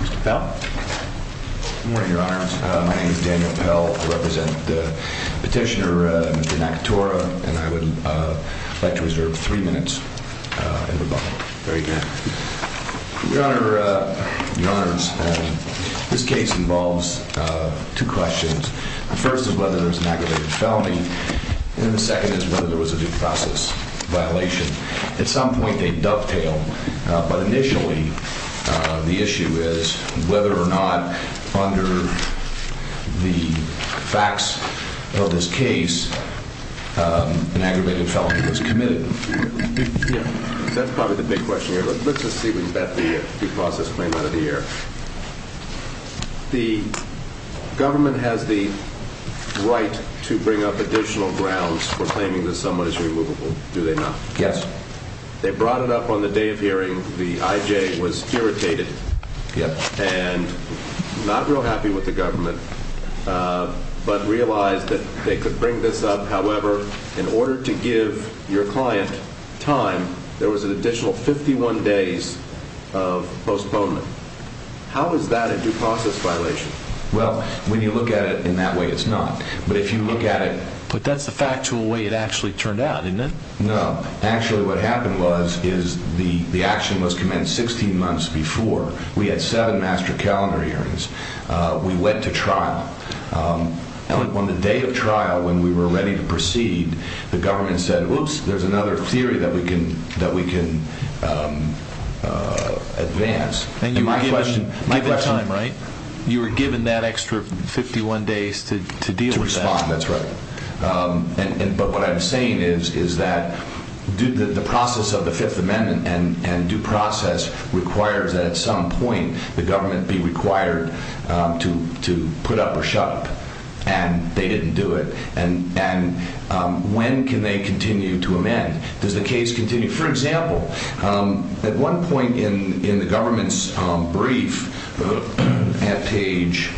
Mr. Pell? Good morning, Your Honors. My name is Daniel Pell. I represent the petitioner, Mr. Nakatura, and I would like to reserve three minutes. Very good. Your Honors, this case involves two questions. The first is whether there was an aggravated felony, and the second is whether there was a due process violation. At some point they dovetail, but initially the issue is whether or not, under the facts of this case, an aggravated felony was committed. That's probably the big question here. Let's just see if we can get the due process violation. The government has the right to bring up additional grounds for claiming that someone is removable, do they not? Yes. They brought it up on the day of hearing. The I.J. was irritated and not real happy with the government, but realized that they could bring this up. However, in order to give your client time, there was an additional 51 days of postponement. How is that a due process violation? Well, when you look at it in that way, it's not. But if you look at it... But that's the factual way it actually turned out, isn't it? No. Actually what happened was the action was commenced 16 months before. We had seven master calendar hearings. We went to trial. On the day of trial, when we were ready to proceed, the government said, whoops, there's another theory that we can advance. And you were given time, right? You were given that extra 51 days to deal with that. To respond, that's right. But what I'm saying is that the process of the Fifth Amendment and due process requires that at some point, the government be required to put up or shut up. And they didn't do it. And when can they continue to amend? Does the case continue? For example, at one point in the government's brief, at page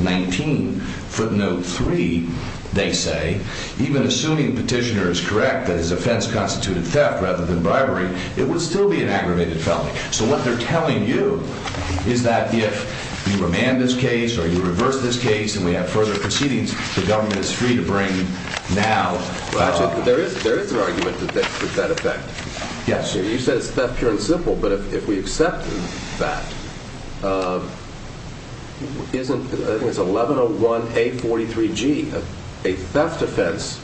19, footnote three, they say, even assuming petitioner is correct that his offense constituted theft rather than bribery, it would still be an aggravated felony. So what they're telling you is that if you remand this case or you reverse this case and we have further proceedings, the government is free to bring now. Well, actually there is an argument that that effect. Yes. You said it's theft, pure and simple. But if we accept that, isn't, I think it's 1101A43G, a theft offense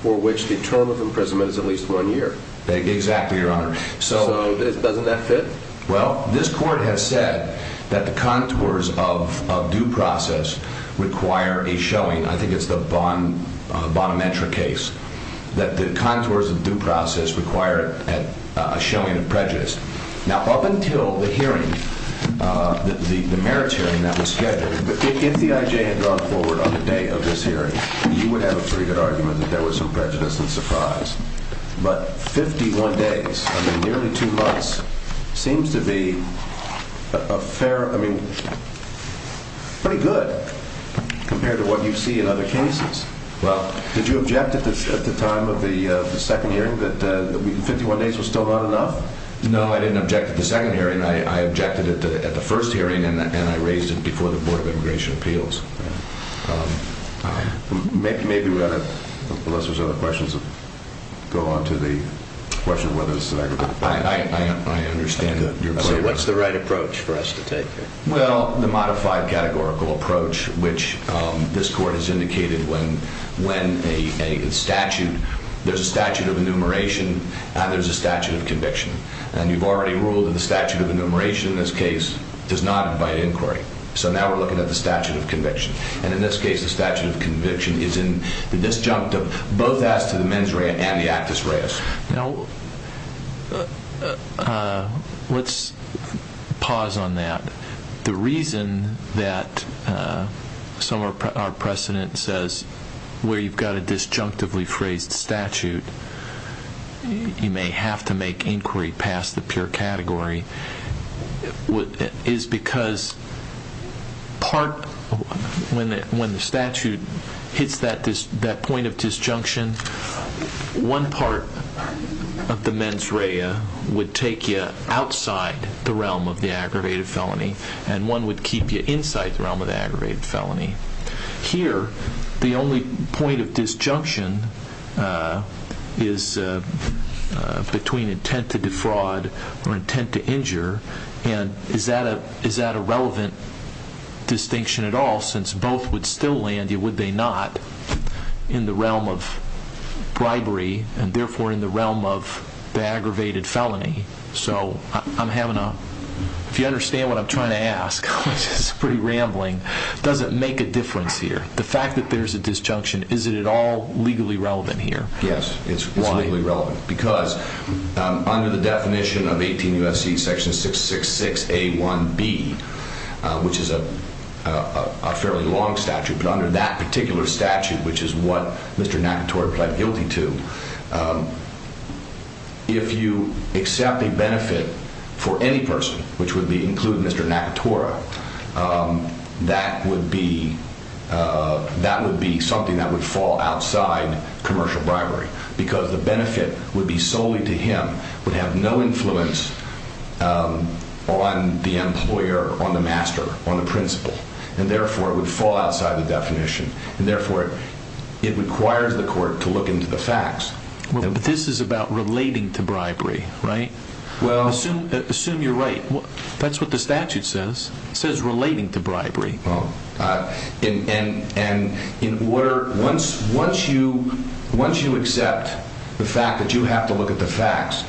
for which the term of imprisonment is at least one year. Exactly, Your Honor. So doesn't that fit? Well, this court has said that the contours of due process require a showing. I think it's the Bonnetra case that the contours of due process require a showing of prejudice. Now, up until the hearing, the merits hearing that was scheduled, if the IJ had gone forward on the day of this hearing, you would have a pretty good argument that there was some prejudice and surprise. But 51 days, I mean, nearly two months, seems to be a fair, I mean, pretty good compared to what you see in other cases. Well, did you object at the time of the second hearing that 51 days was still not enough? No, I didn't object at the second hearing. I objected at the first hearing and I raised it unless there's other questions that go on to the question of whether it's an aggravated crime. I understand that. So what's the right approach for us to take here? Well, the modified categorical approach, which this court has indicated when a statute, there's a statute of enumeration and there's a statute of conviction. And you've already ruled that the statute of enumeration in this case does not invite inquiry. So now we're looking at the both as to the mens rea and the actus reus. Now, let's pause on that. The reason that some of our precedent says where you've got a disjunctively phrased statute, you may have to make inquiry past the pure category is because part, when the statute hits that point of disjunction, one part of the mens rea would take you outside the realm of the aggravated felony and one would keep you inside the realm of the aggravated felony. Here, the only point of disjunction is between intent to defraud or intent to injure and is that a relevant distinction at all? Since both would still land you, would they not in the realm of bribery and therefore in the realm of the aggravated felony? So I'm having a, if you understand what I'm trying to ask, which is pretty rambling, does it make a difference here? The fact that there's a disjunction, is it at all legally relevant here? Yes, it's legally relevant because under the which is a fairly long statute, but under that particular statute, which is what Mr. Nakatora pled guilty to, if you accept a benefit for any person, which would be including Mr. Nakatora, that would be something that would fall outside commercial bribery because the benefit would be solely to him, would have no influence on the employer, on the master, on the principal and therefore would fall outside the definition and therefore it requires the court to look into the facts. This is about relating to bribery, right? Well, assume you're right. That's what the statute says. It says relating to bribery. Once you accept the fact that you have to look at the facts,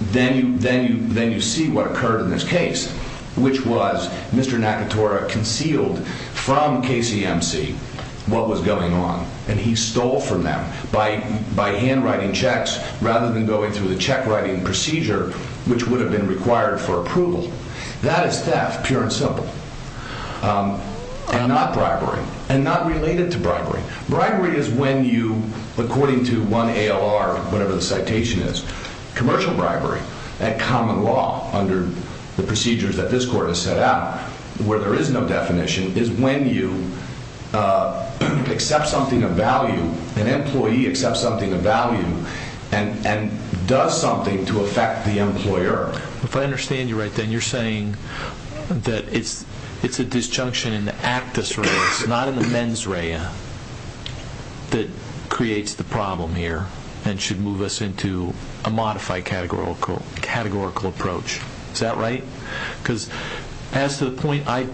then you see what occurred in this case, which was Mr. Nakatora concealed from KCMC what was going on and he stole from them by handwriting checks rather than going through the check writing procedure, which would have been required for approval. That is theft, pure and simple and not bribery and not related to bribery. Bribery is when you, according to one ALR, whatever the citation is, commercial bribery at common law under the procedures that this court has set out, where there is no definition, is when you accept something of value, an employee accepts something of value and does something to affect the employer. If I understand you right, then you're saying that it's a disjunction in the actus reus, not in the mens rea, that creates the problem here and should move us into a modified categorical approach. Is that right? Because as to the point I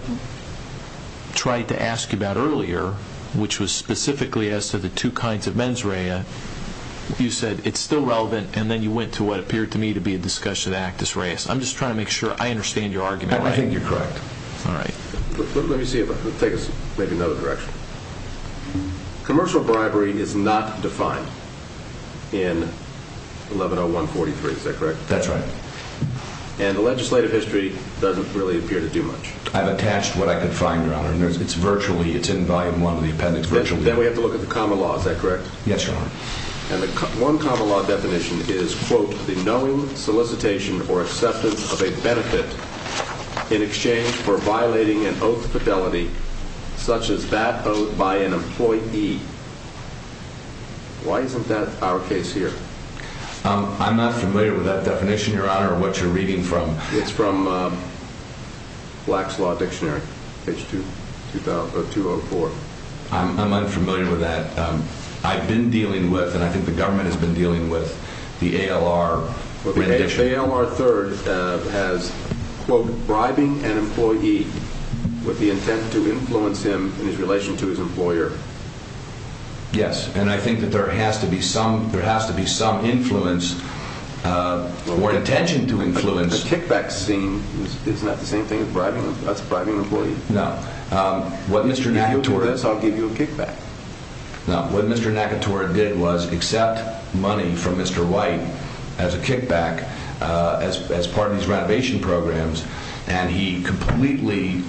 tried to ask you about earlier, which was specifically as to the two kinds of mens rea, you said it's still relevant and then you went to what appeared to me to be a discussion actus reus. I'm just trying to make sure I understand your argument. I think you're correct. All right. Let me see if I can take us maybe another direction. Commercial bribery is not defined in 110143, is that correct? That's right. And the legislative history doesn't really appear to do much. I've attached what I could find, your honor, and it's virtually, it's in volume one of Then we have to look at the common law, is that correct? Yes, your honor. And the one common law definition is, quote, the knowing solicitation or acceptance of a benefit in exchange for violating an oath of fidelity, such as that owed by an employee. Why isn't that our case here? I'm not familiar with that definition, your honor, or what you're reading from. It's from Black's Law Dictionary, page 2004. I'm unfamiliar with that. I've been dealing with, and I think the government has been dealing with the ALR rendition. But the ALR 3rd has, quote, bribing an employee with the intent to influence him in his relation to his employer. Yes. And I think that there has to be some, there has to be some influence or intention to influence. The kickback scene is not the I'll give you a kickback. No, what Mr. Nakatora did was accept money from Mr. White as a kickback as part of these renovation programs. And he completely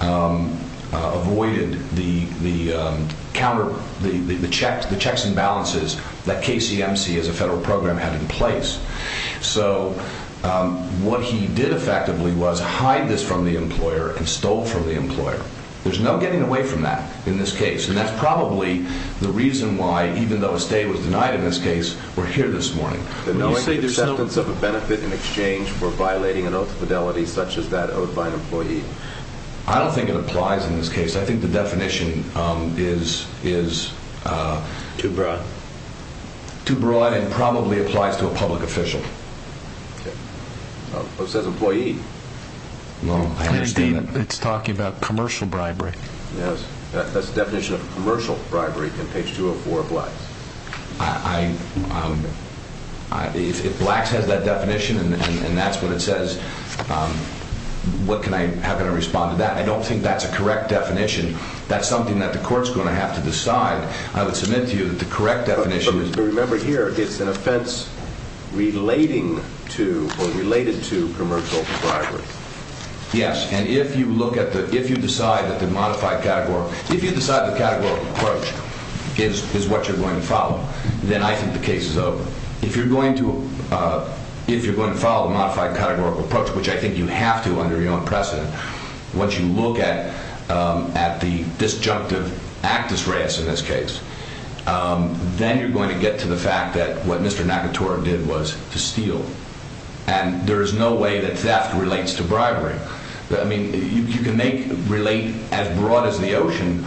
avoided the checks and balances that KCMC as a federal program had in place. So what he did effectively was hide this from the employer and stole from the employer. There's no getting away from that in this case. And that's probably the reason why, even though a stay was denied in this case, we're here this morning. But knowing the acceptance of a benefit in exchange for violating an oath of fidelity, such as that owed by an employee. I don't think it applies in this case. I think the definition is too broad and probably applies to a public official. Okay. So it says employee. No, I understand that. It's talking about commercial bribery. Yes. That's the definition of commercial bribery in page 204 of Blacks. I, if Blacks has that definition and that's what it says, what can I, how can I respond to that? I don't think that's a correct definition. That's something that the court's going to have to decide. I would submit to you that the correct definition is. But remember here, it's an offense relating to, or related to commercial bribery. Yes. And if you look at the, if you decide that the modified categorical, if you decide the categorical approach is what you're going to follow, then I think the case is over. If you're going to, if you're going to follow the modified categorical approach, which I think you have to then you're going to get to the fact that what Mr. Nakatora did was to steal. And there is no way that theft relates to bribery. I mean, you can make relate as broad as the ocean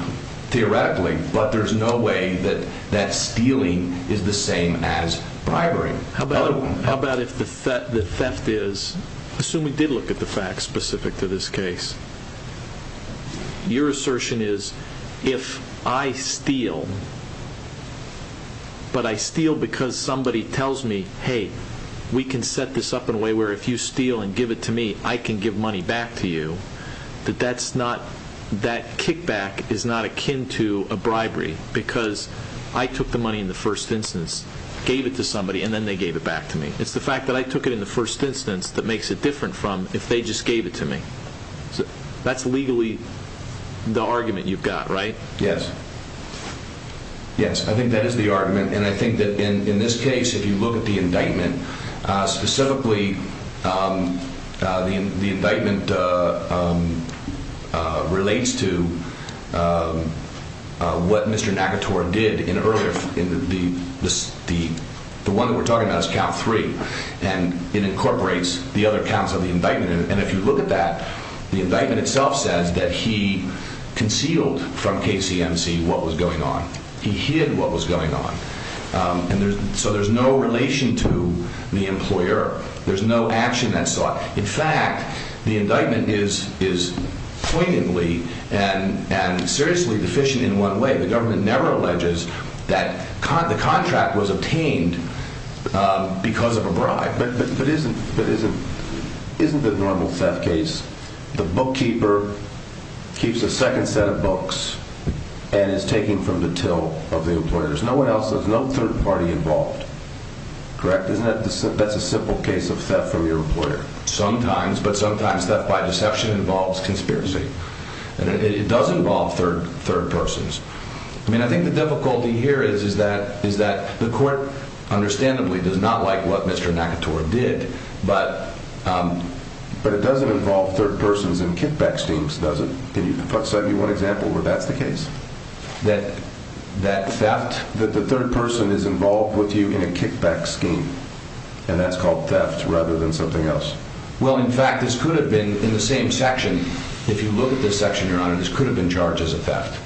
theoretically, but there's no way that that stealing is the same as bribery. How about, how about if the theft is, assume we did look at the facts specific to this case. Your assertion is, if I steal, but I steal because somebody tells me, hey, we can set this up in a way where if you steal and give it to me, I can give money back to you. That that's not, that kickback is not akin to a bribery because I took the money in the first instance, gave it to somebody, and then they gave it back to me. It's the fact that I took it in the first instance that makes it that's legally the argument you've got, right? Yes. Yes. I think that is the argument. And I think that in this case, if you look at the indictment specifically the indictment relates to what Mr. Nakatora did in earlier in the, the, the, the one that we're talking about is count three and it incorporates the other counts of the indictment. And if you look at that, the indictment itself says that he concealed from KCMC what was going on. He hid what was going on. And there's, so there's no relation to the employer. There's no action that sought. In fact, the indictment is, is poignantly and, and seriously deficient in one way. The government never alleges that the contract was obtained because of a bribe. But, but, but isn't, but isn't, isn't the normal theft case. The bookkeeper keeps a second set of books and is taking from the till of the employers. No one else, there's no third party involved, correct? Isn't that, that's a simple case of theft from your employer. Sometimes, but sometimes theft by deception involves conspiracy and it does involve third, third persons. I mean, I think the difficulty here is, is that, is that the court understandably does not like what Mr. Nakator did, but, but it doesn't involve third persons in kickback schemes, does it? Can you give me one example where that's the case? That, that theft, that the third person is involved with you in a kickback scheme and that's called theft rather than something else? Well, in fact, this could have been in the same section. If you look at this section, your honor, this could have been charged as a theft.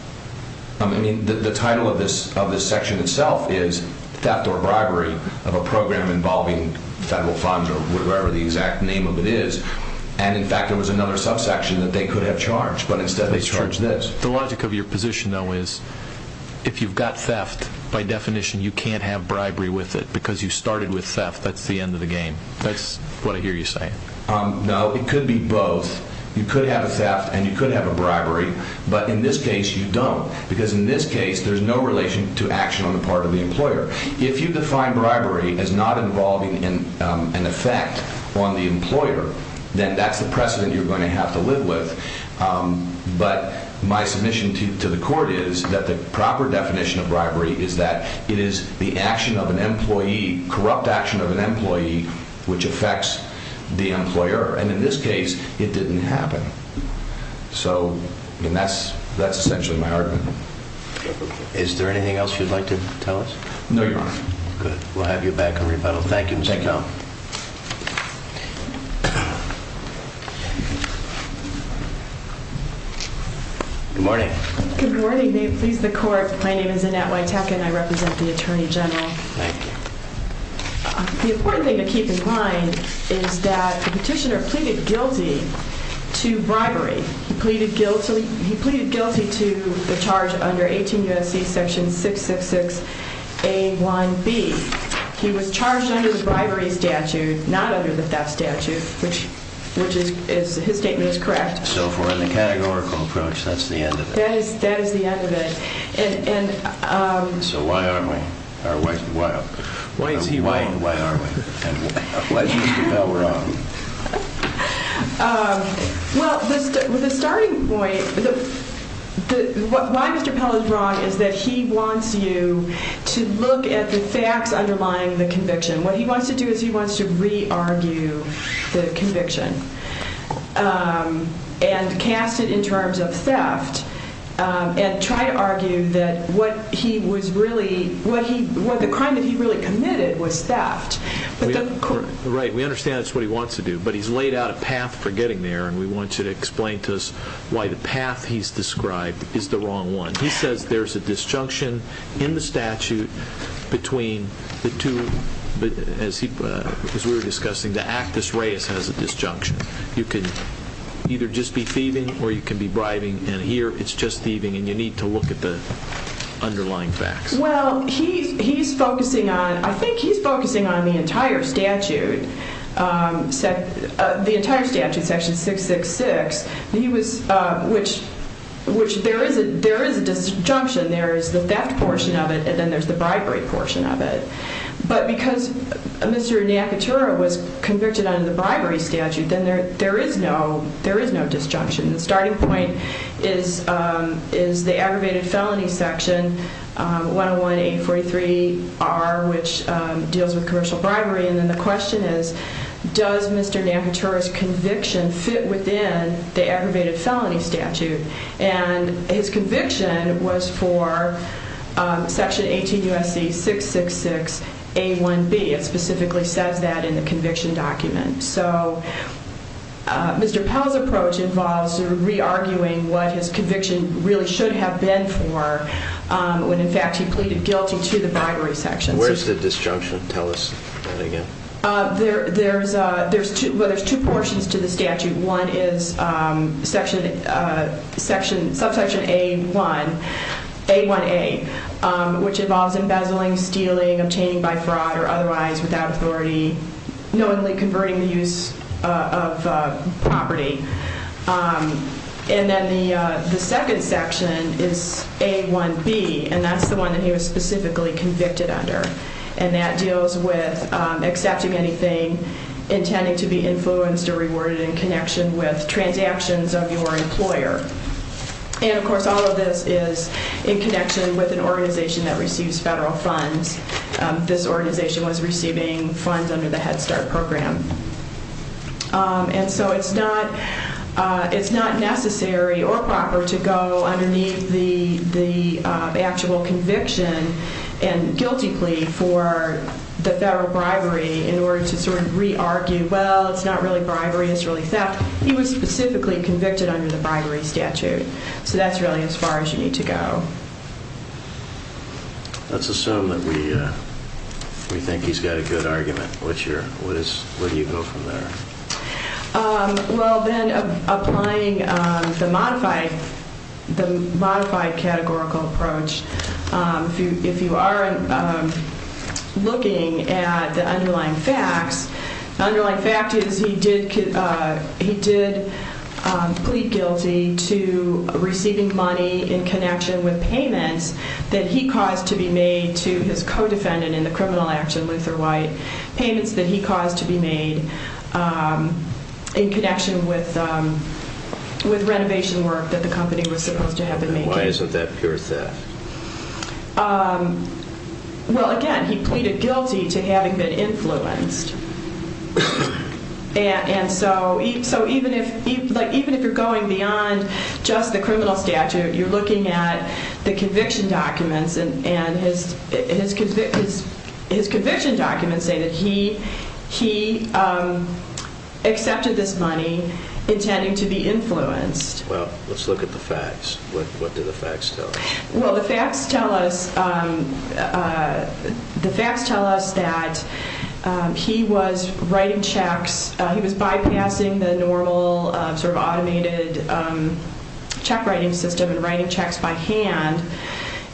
I mean, the title of this, of this section itself is theft or bribery of a program involving federal funds or whatever the exact name of it is. And in fact, there was another subsection that they could have charged, but instead they charged this. The logic of your position though, is if you've got theft, by definition, you can't have bribery with it because you started with theft. That's the end of the game. That's what I hear you saying. Um, no, it could be both. You could have a theft and you could have a bribery, but in this case you don't because in this case there's no relation to action on the part of the employer. If you define bribery as not involving in, um, an effect on the employer, then that's the precedent you're going to have to live with. Um, but my submission to the court is that the proper definition of bribery is that it is the action of an employee, corrupt action of an employee, which affects the employer. And in this case it didn't happen. So, and that's, that's essentially my argument. Is there anything else you'd like to tell us? No, Your Honor. Good. We'll have you back on rebuttal. Thank you. Good morning. Good morning. May it please the court. My name is Annette Wytacka and I represent the Attorney General. Thank you. The important thing to keep in mind is that the petitioner pleaded guilty to bribery. He pleaded guilty, he pleaded guilty to the charge under 18 U.S.C. section 666A1B. He was charged under the bribery statute, not under the theft statute, which, which is, is his statement is correct. So if we're in the categorical approach, that's the end of it. That is, that is the end of it. And, and, um. So why aren't we? Or why, why, why is he wrong and why aren't we? And why is Mr. Pell wrong? Well, the starting point, the, why Mr. Pell is wrong is that he wants you to look at the facts underlying the conviction. What he wants to do is he wants to re-argue the conviction and cast it in terms of theft and try to argue that what he was really, what he, what the crime that he really committed was theft. Right, we understand that's what he wants to do, but he's laid out a path for getting there and we want you to explain to us why the path he's described is the wrong one. He says there's a disjunction in the statute between the two, but as he, as we were discussing, the actus reus has a disjunction. You can either just be thieving or you can be bribing and here it's just thieving and you need to look at the underlying facts. Well, he's, he's focusing on, I think he's focusing on the entire statute, the entire statute, section 666. He was, which, which there is a, there is a disjunction. There is the theft portion of it and then there's the bribery portion of it. But because Mr. Nakatura was convicted under the bribery statute, then there, there is no, there is no disjunction. The starting point is, is the aggravated felony section 101-843-R, which deals with commercial bribery. And then the question is, does Mr. Nakatura's conviction fit within the aggravated felony statute? And his conviction was for section 18 U.S.C. 666-A1B. It specifically says that in the conviction document. So Mr. Pell's approach involves re-arguing what his conviction really should have been for when in fact he pleaded guilty to the bribery section. Where's the disjunction? Tell us that again. There, there's a, there's two, well there's two portions to the statute. One is section, section, subsection A1, A1A, which involves embezzling, stealing, obtaining by fraud or otherwise without authority, knowingly converting the use of property. And then the, the second section is A1B, and that's the one that he was specifically convicted under. And that deals with accepting anything intending to be influenced or rewarded in connection with transactions of your employer. And of course, all of this is in connection with an organization that receives federal funds. This organization was receiving funds under the Head Start program. And so it's not, it's not necessary or proper to go underneath the, the actual conviction and guilty plea for the federal bribery in order to sort of re-argue, well, it's not really bribery, it's really theft. He was specifically convicted under the bribery statute. So that's really as far as you need to go. Let's assume that we, we think he's got a good argument. What's your, what is, where do you go from there? Well, then applying the modified, the modified categorical approach, if you, if you are looking at the underlying facts, the underlying fact is he did, he did plead guilty to receiving money in connection with payments that he caused to be made to his co-defendant in the criminal action, Luther White. Payments that he caused to be made in connection with, with renovation work that the company was supposed to have been making. Why isn't that pure theft? Well, again, he pleaded guilty to having been influenced. And, and so, so even if, like, even if you're going beyond just the criminal statute, you're looking at the conviction documents and, and his, his, his conviction documents say that he, he accepted this money intending to be influenced. Well, let's look at the facts. What, what do the facts tell us? Well, the facts tell us, the facts tell us that he was writing checks. He was bypassing the normal sort of automated check writing system and writing checks by hand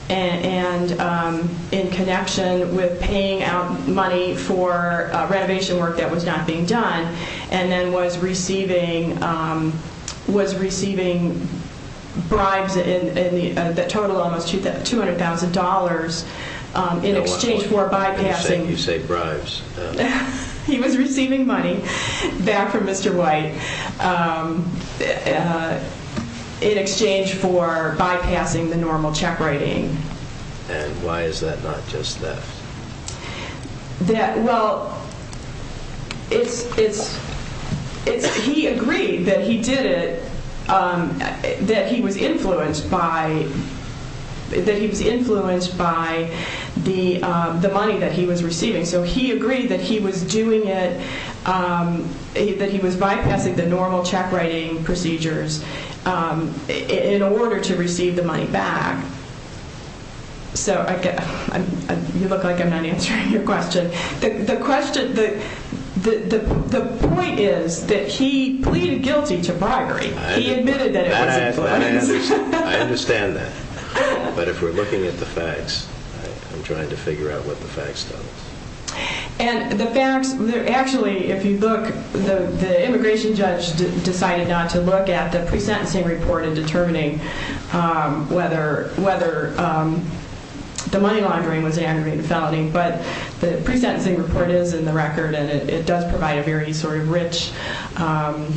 and, and in connection with paying out money for renovation work that was not being done and then was receiving, um, was receiving bribes in, in the, uh, the total almost $200,000, um, in exchange for bypassing. You say, you say bribes. He was receiving money back from Mr. White, um, uh, in exchange for bypassing the normal check writing. And why is that not just theft? That, well, it's, it's, it's, he agreed that he did it, um, that he was influenced by, that he was influenced by the, um, the money that he was receiving. So he agreed that he was doing it, um, that he was bypassing the normal check writing procedures, um, in order to receive the money back. So I get, I'm, you look like I'm not answering your question. The, the question, the, the, the, the point is that he pleaded guilty to bribery. He admitted that it was influence. I understand that. But if we're looking at the facts, I'm trying to figure out what the facts tell us. And the facts, actually, if you look, the, the immigration judge decided not to look at the pre-sentencing report in determining, um, whether, whether, um, the money laundering was an aggravated felony, but the pre-sentencing report is in the record and it does provide a very sort of rich, um,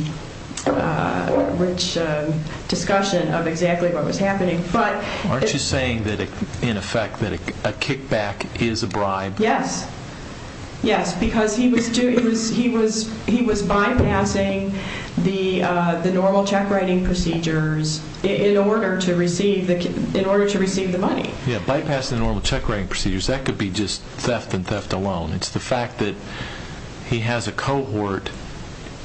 uh, rich, uh, discussion of exactly what was happening. But aren't you saying that in effect that a kickback is a bribe? Yes, yes, because he was doing, he was, he was, he was bypassing the, uh, the normal check writing procedures in order to receive the, in order to receive the money. Yeah, bypassing the normal check writing procedures, that could be just theft and theft alone. It's the fact that he has a cohort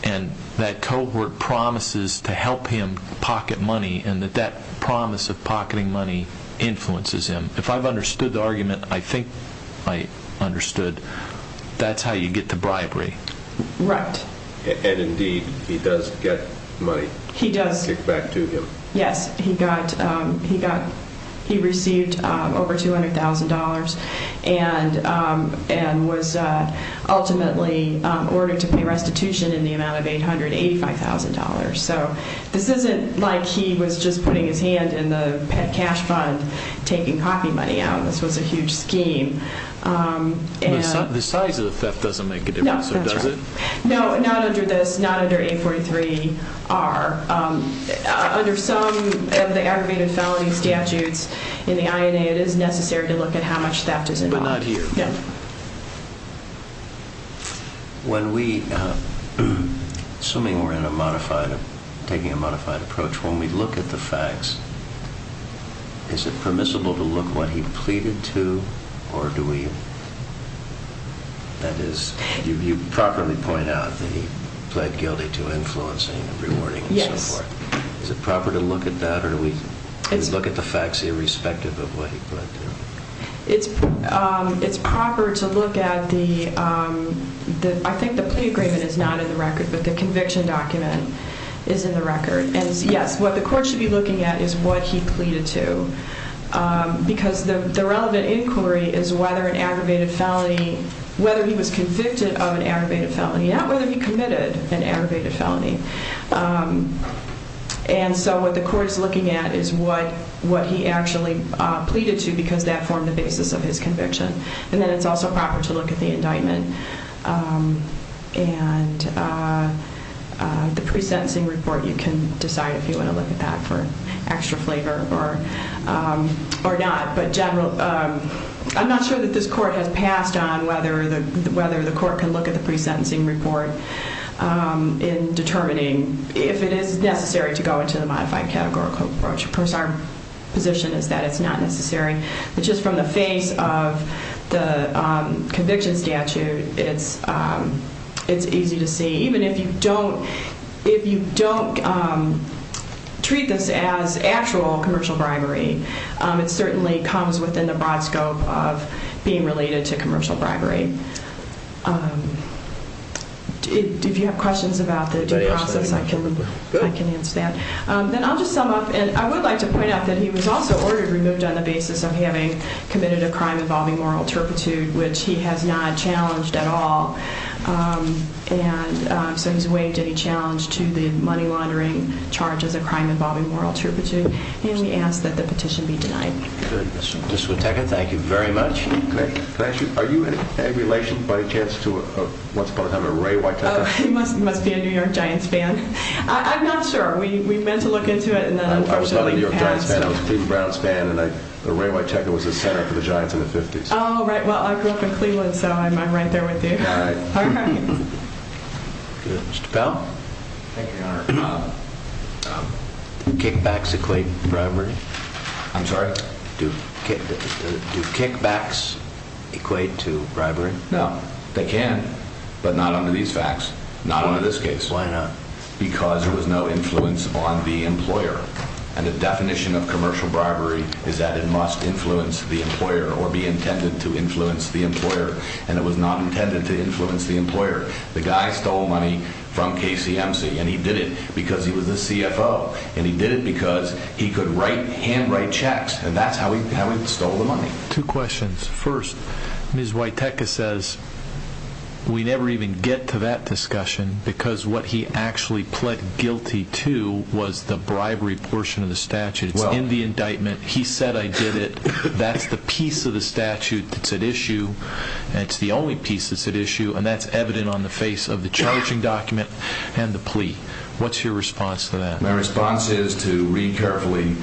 and that cohort promises to help him pocket money and that that promise of pocketing money influences him. If I've understood the argument, I think I understood, that's how you get the bribery. Right. And indeed, he does get money. He does. Kicked back to him. Yes, he got, um, he got, he received, um, over $200,000 and, um, and was, uh, ultimately, um, ordered to pay restitution in the amount of $885,000. So this isn't like he was just putting his hand in the pet cash fund taking copy money out. This was a huge scheme, um, and. The size of the theft doesn't make a difference, does it? No, not under this, not under 843-R. Under some of the aggravated felony statutes in the INA, it is necessary to look at how much theft is involved. But not here. Yeah. When we, uh, assuming we're in a modified, taking a modified approach, when we look at the facts, is it permissible to look what he pleaded to or do we, that is, you, you properly point out that he pled guilty to influencing and rewarding and so forth. Is it proper to look at that or do we look at the facts irrespective of what he pled to? It's, um, it's proper to look at the, um, the, I think the plea agreement is not in the record, but the conviction document is in the record. And yes, what the court should be looking at is what he pleaded to, um, because the, the relevant inquiry is whether an aggravated felony, whether he was convicted of an aggravated felony, not whether he committed an aggravated felony. Um, and so what the court is looking at is what, what he actually, uh, pleaded to because that formed the basis of his conviction. And then it's also proper to look at the indictment, um, and, uh, uh, the pre-sentencing report. You can decide if you want to look at that for extra flavor or, um, or not. But general, um, I'm not sure that this court has passed on whether the, whether the court can look at the pre-sentencing report, um, in determining if it is necessary to go into the modified categorical approach. Of course, our position is that it's not necessary, but just from the face of the, um, conviction statute, it's, um, it's easy to see. Even if you don't, if you don't, um, treat this as actual commercial bribery, um, it certainly comes within the broad scope of being related to commercial bribery. Um, if you have questions about the due process, I can, I can answer that. Um, then I'll just sum up. And I would like to point out that he was also ordered removed on the basis of having committed a crime involving moral turpitude, which he has not challenged at all. Um, and, um, so he's waived any challenge to the money laundering charge as a crime involving moral turpitude. And we ask that the petition be denied. Good. Ms. Witeka, thank you very much. Can I, can I ask you, are you in any relation by any chance to a, a, what's his name, a Ray Witeka? Oh, he must, must be a New York Giants fan. I'm not sure. We meant to look into it and then unfortunately he passed. I was not a New York Giants fan. I was a Cleveland Browns fan and I, the Ray Witeka was the center for the Giants in the fifties. Oh, right. Well, I grew up in Cleveland, so I'm, I'm right there with you. All right. All right. Good. Mr. Powell. Thank you, Your Honor. Um, um, kickbacks equate to bribery? I'm sorry? Do, do, do kickbacks equate to bribery? No, they can, but not under these facts, not under this case. Why not? Because there was no influence on the employer. And the definition of commercial bribery is that it must influence the employer or be intended to influence the employer. And it was not intended to influence the employer. The guy stole money from KCMC and he did it because he was the CFO and he did it because he could write, handwrite checks. And that's how he, how he stole the money. Two questions. First, Ms. Witeka says we never even get to that discussion because what he actually pled guilty to was the bribery portion of the statute. It's in the indictment. He said, I did it. That's the piece of the statute that's at issue. And it's the only piece that's at issue. And that's evident on the face of the charging document and the plea. What's your response to that? My response is to read carefully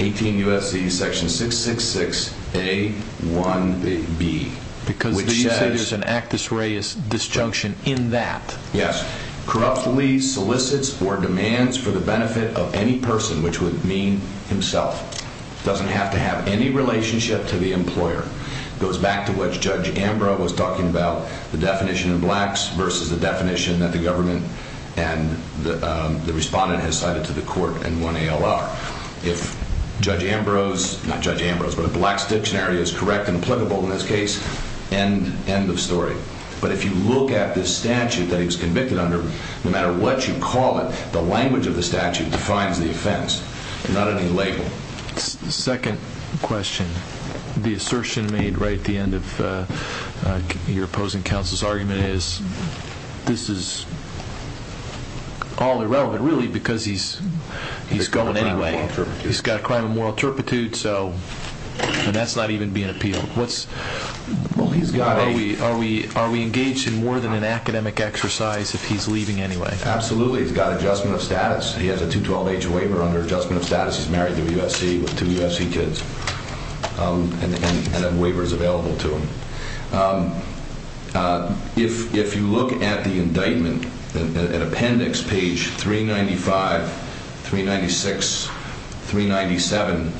18 U.S.C. Section 666A1B, which says- Because you say there's an actus reus disjunction in that. Yes. Corruptly solicits or demands for the benefit of any person, which would mean himself, doesn't have to have any relationship to the employer. It goes back to what Judge Ambrose was talking about, the definition of blacks versus the and the respondent has cited to the court in one ALR. If Judge Ambrose, not Judge Ambrose, but a blacks dictionary is correct and applicable in this case, end of story. But if you look at this statute that he was convicted under, no matter what you call it, the language of the statute defines the offense, not any label. Second question. The assertion made right at the end of your opposing counsel's argument is this is all irrelevant, really, because he's going anyway. He's got a crime of moral turpitude, and that's not even being appealed. Are we engaged in more than an academic exercise if he's leaving anyway? Absolutely. He's got adjustment of status. He has a 212H waiver under adjustment of status. He's married to a U.S.C. with two U.S.C. kids. And a waiver is available to him. If you look at the indictment, at appendix page 395, 396, 397,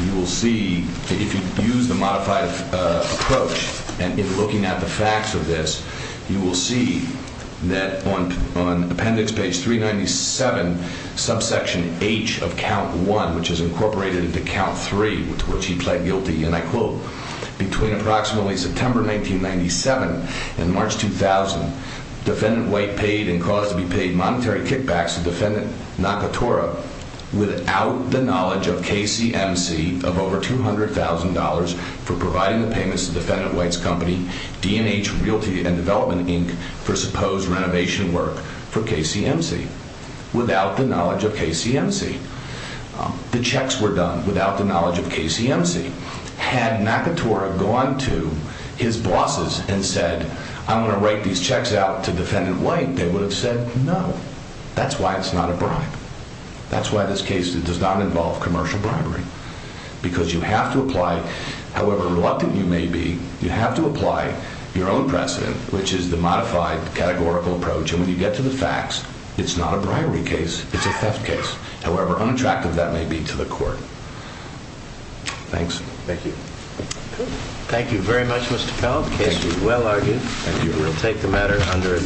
you will see, if you use the modified approach and if looking at the facts of this, you will see that on appendix page 397, subsection H of count one, which is incorporated into count three, to which he pled guilty, and I quote, between approximately September 1997 and March 2000, defendant White paid and caused to be paid monetary kickbacks to defendant Nakatora without the knowledge of KCMC of over $200,000 for providing the payments to defendant White's company, DNH Realty and Development, Inc., for supposed renovation work for KCMC, without the knowledge of KCMC. The checks were done without the knowledge of KCMC. Had Nakatora gone to his bosses and said, I'm going to write these checks out to defendant White, they would have said, no. That's why it's not a bribe. That's why this case does not involve commercial bribery, because you have to apply, however reluctant you may be, you have to apply your own precedent, which is the modified categorical approach, and when you get to the facts, it's not a bribery case, it's a theft case. However, unattractive that may be to the court. Thanks. Thank you. Thank you very much, Mr. Powell. The case was well argued. Thank you. We'll take the matter under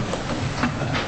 advisory.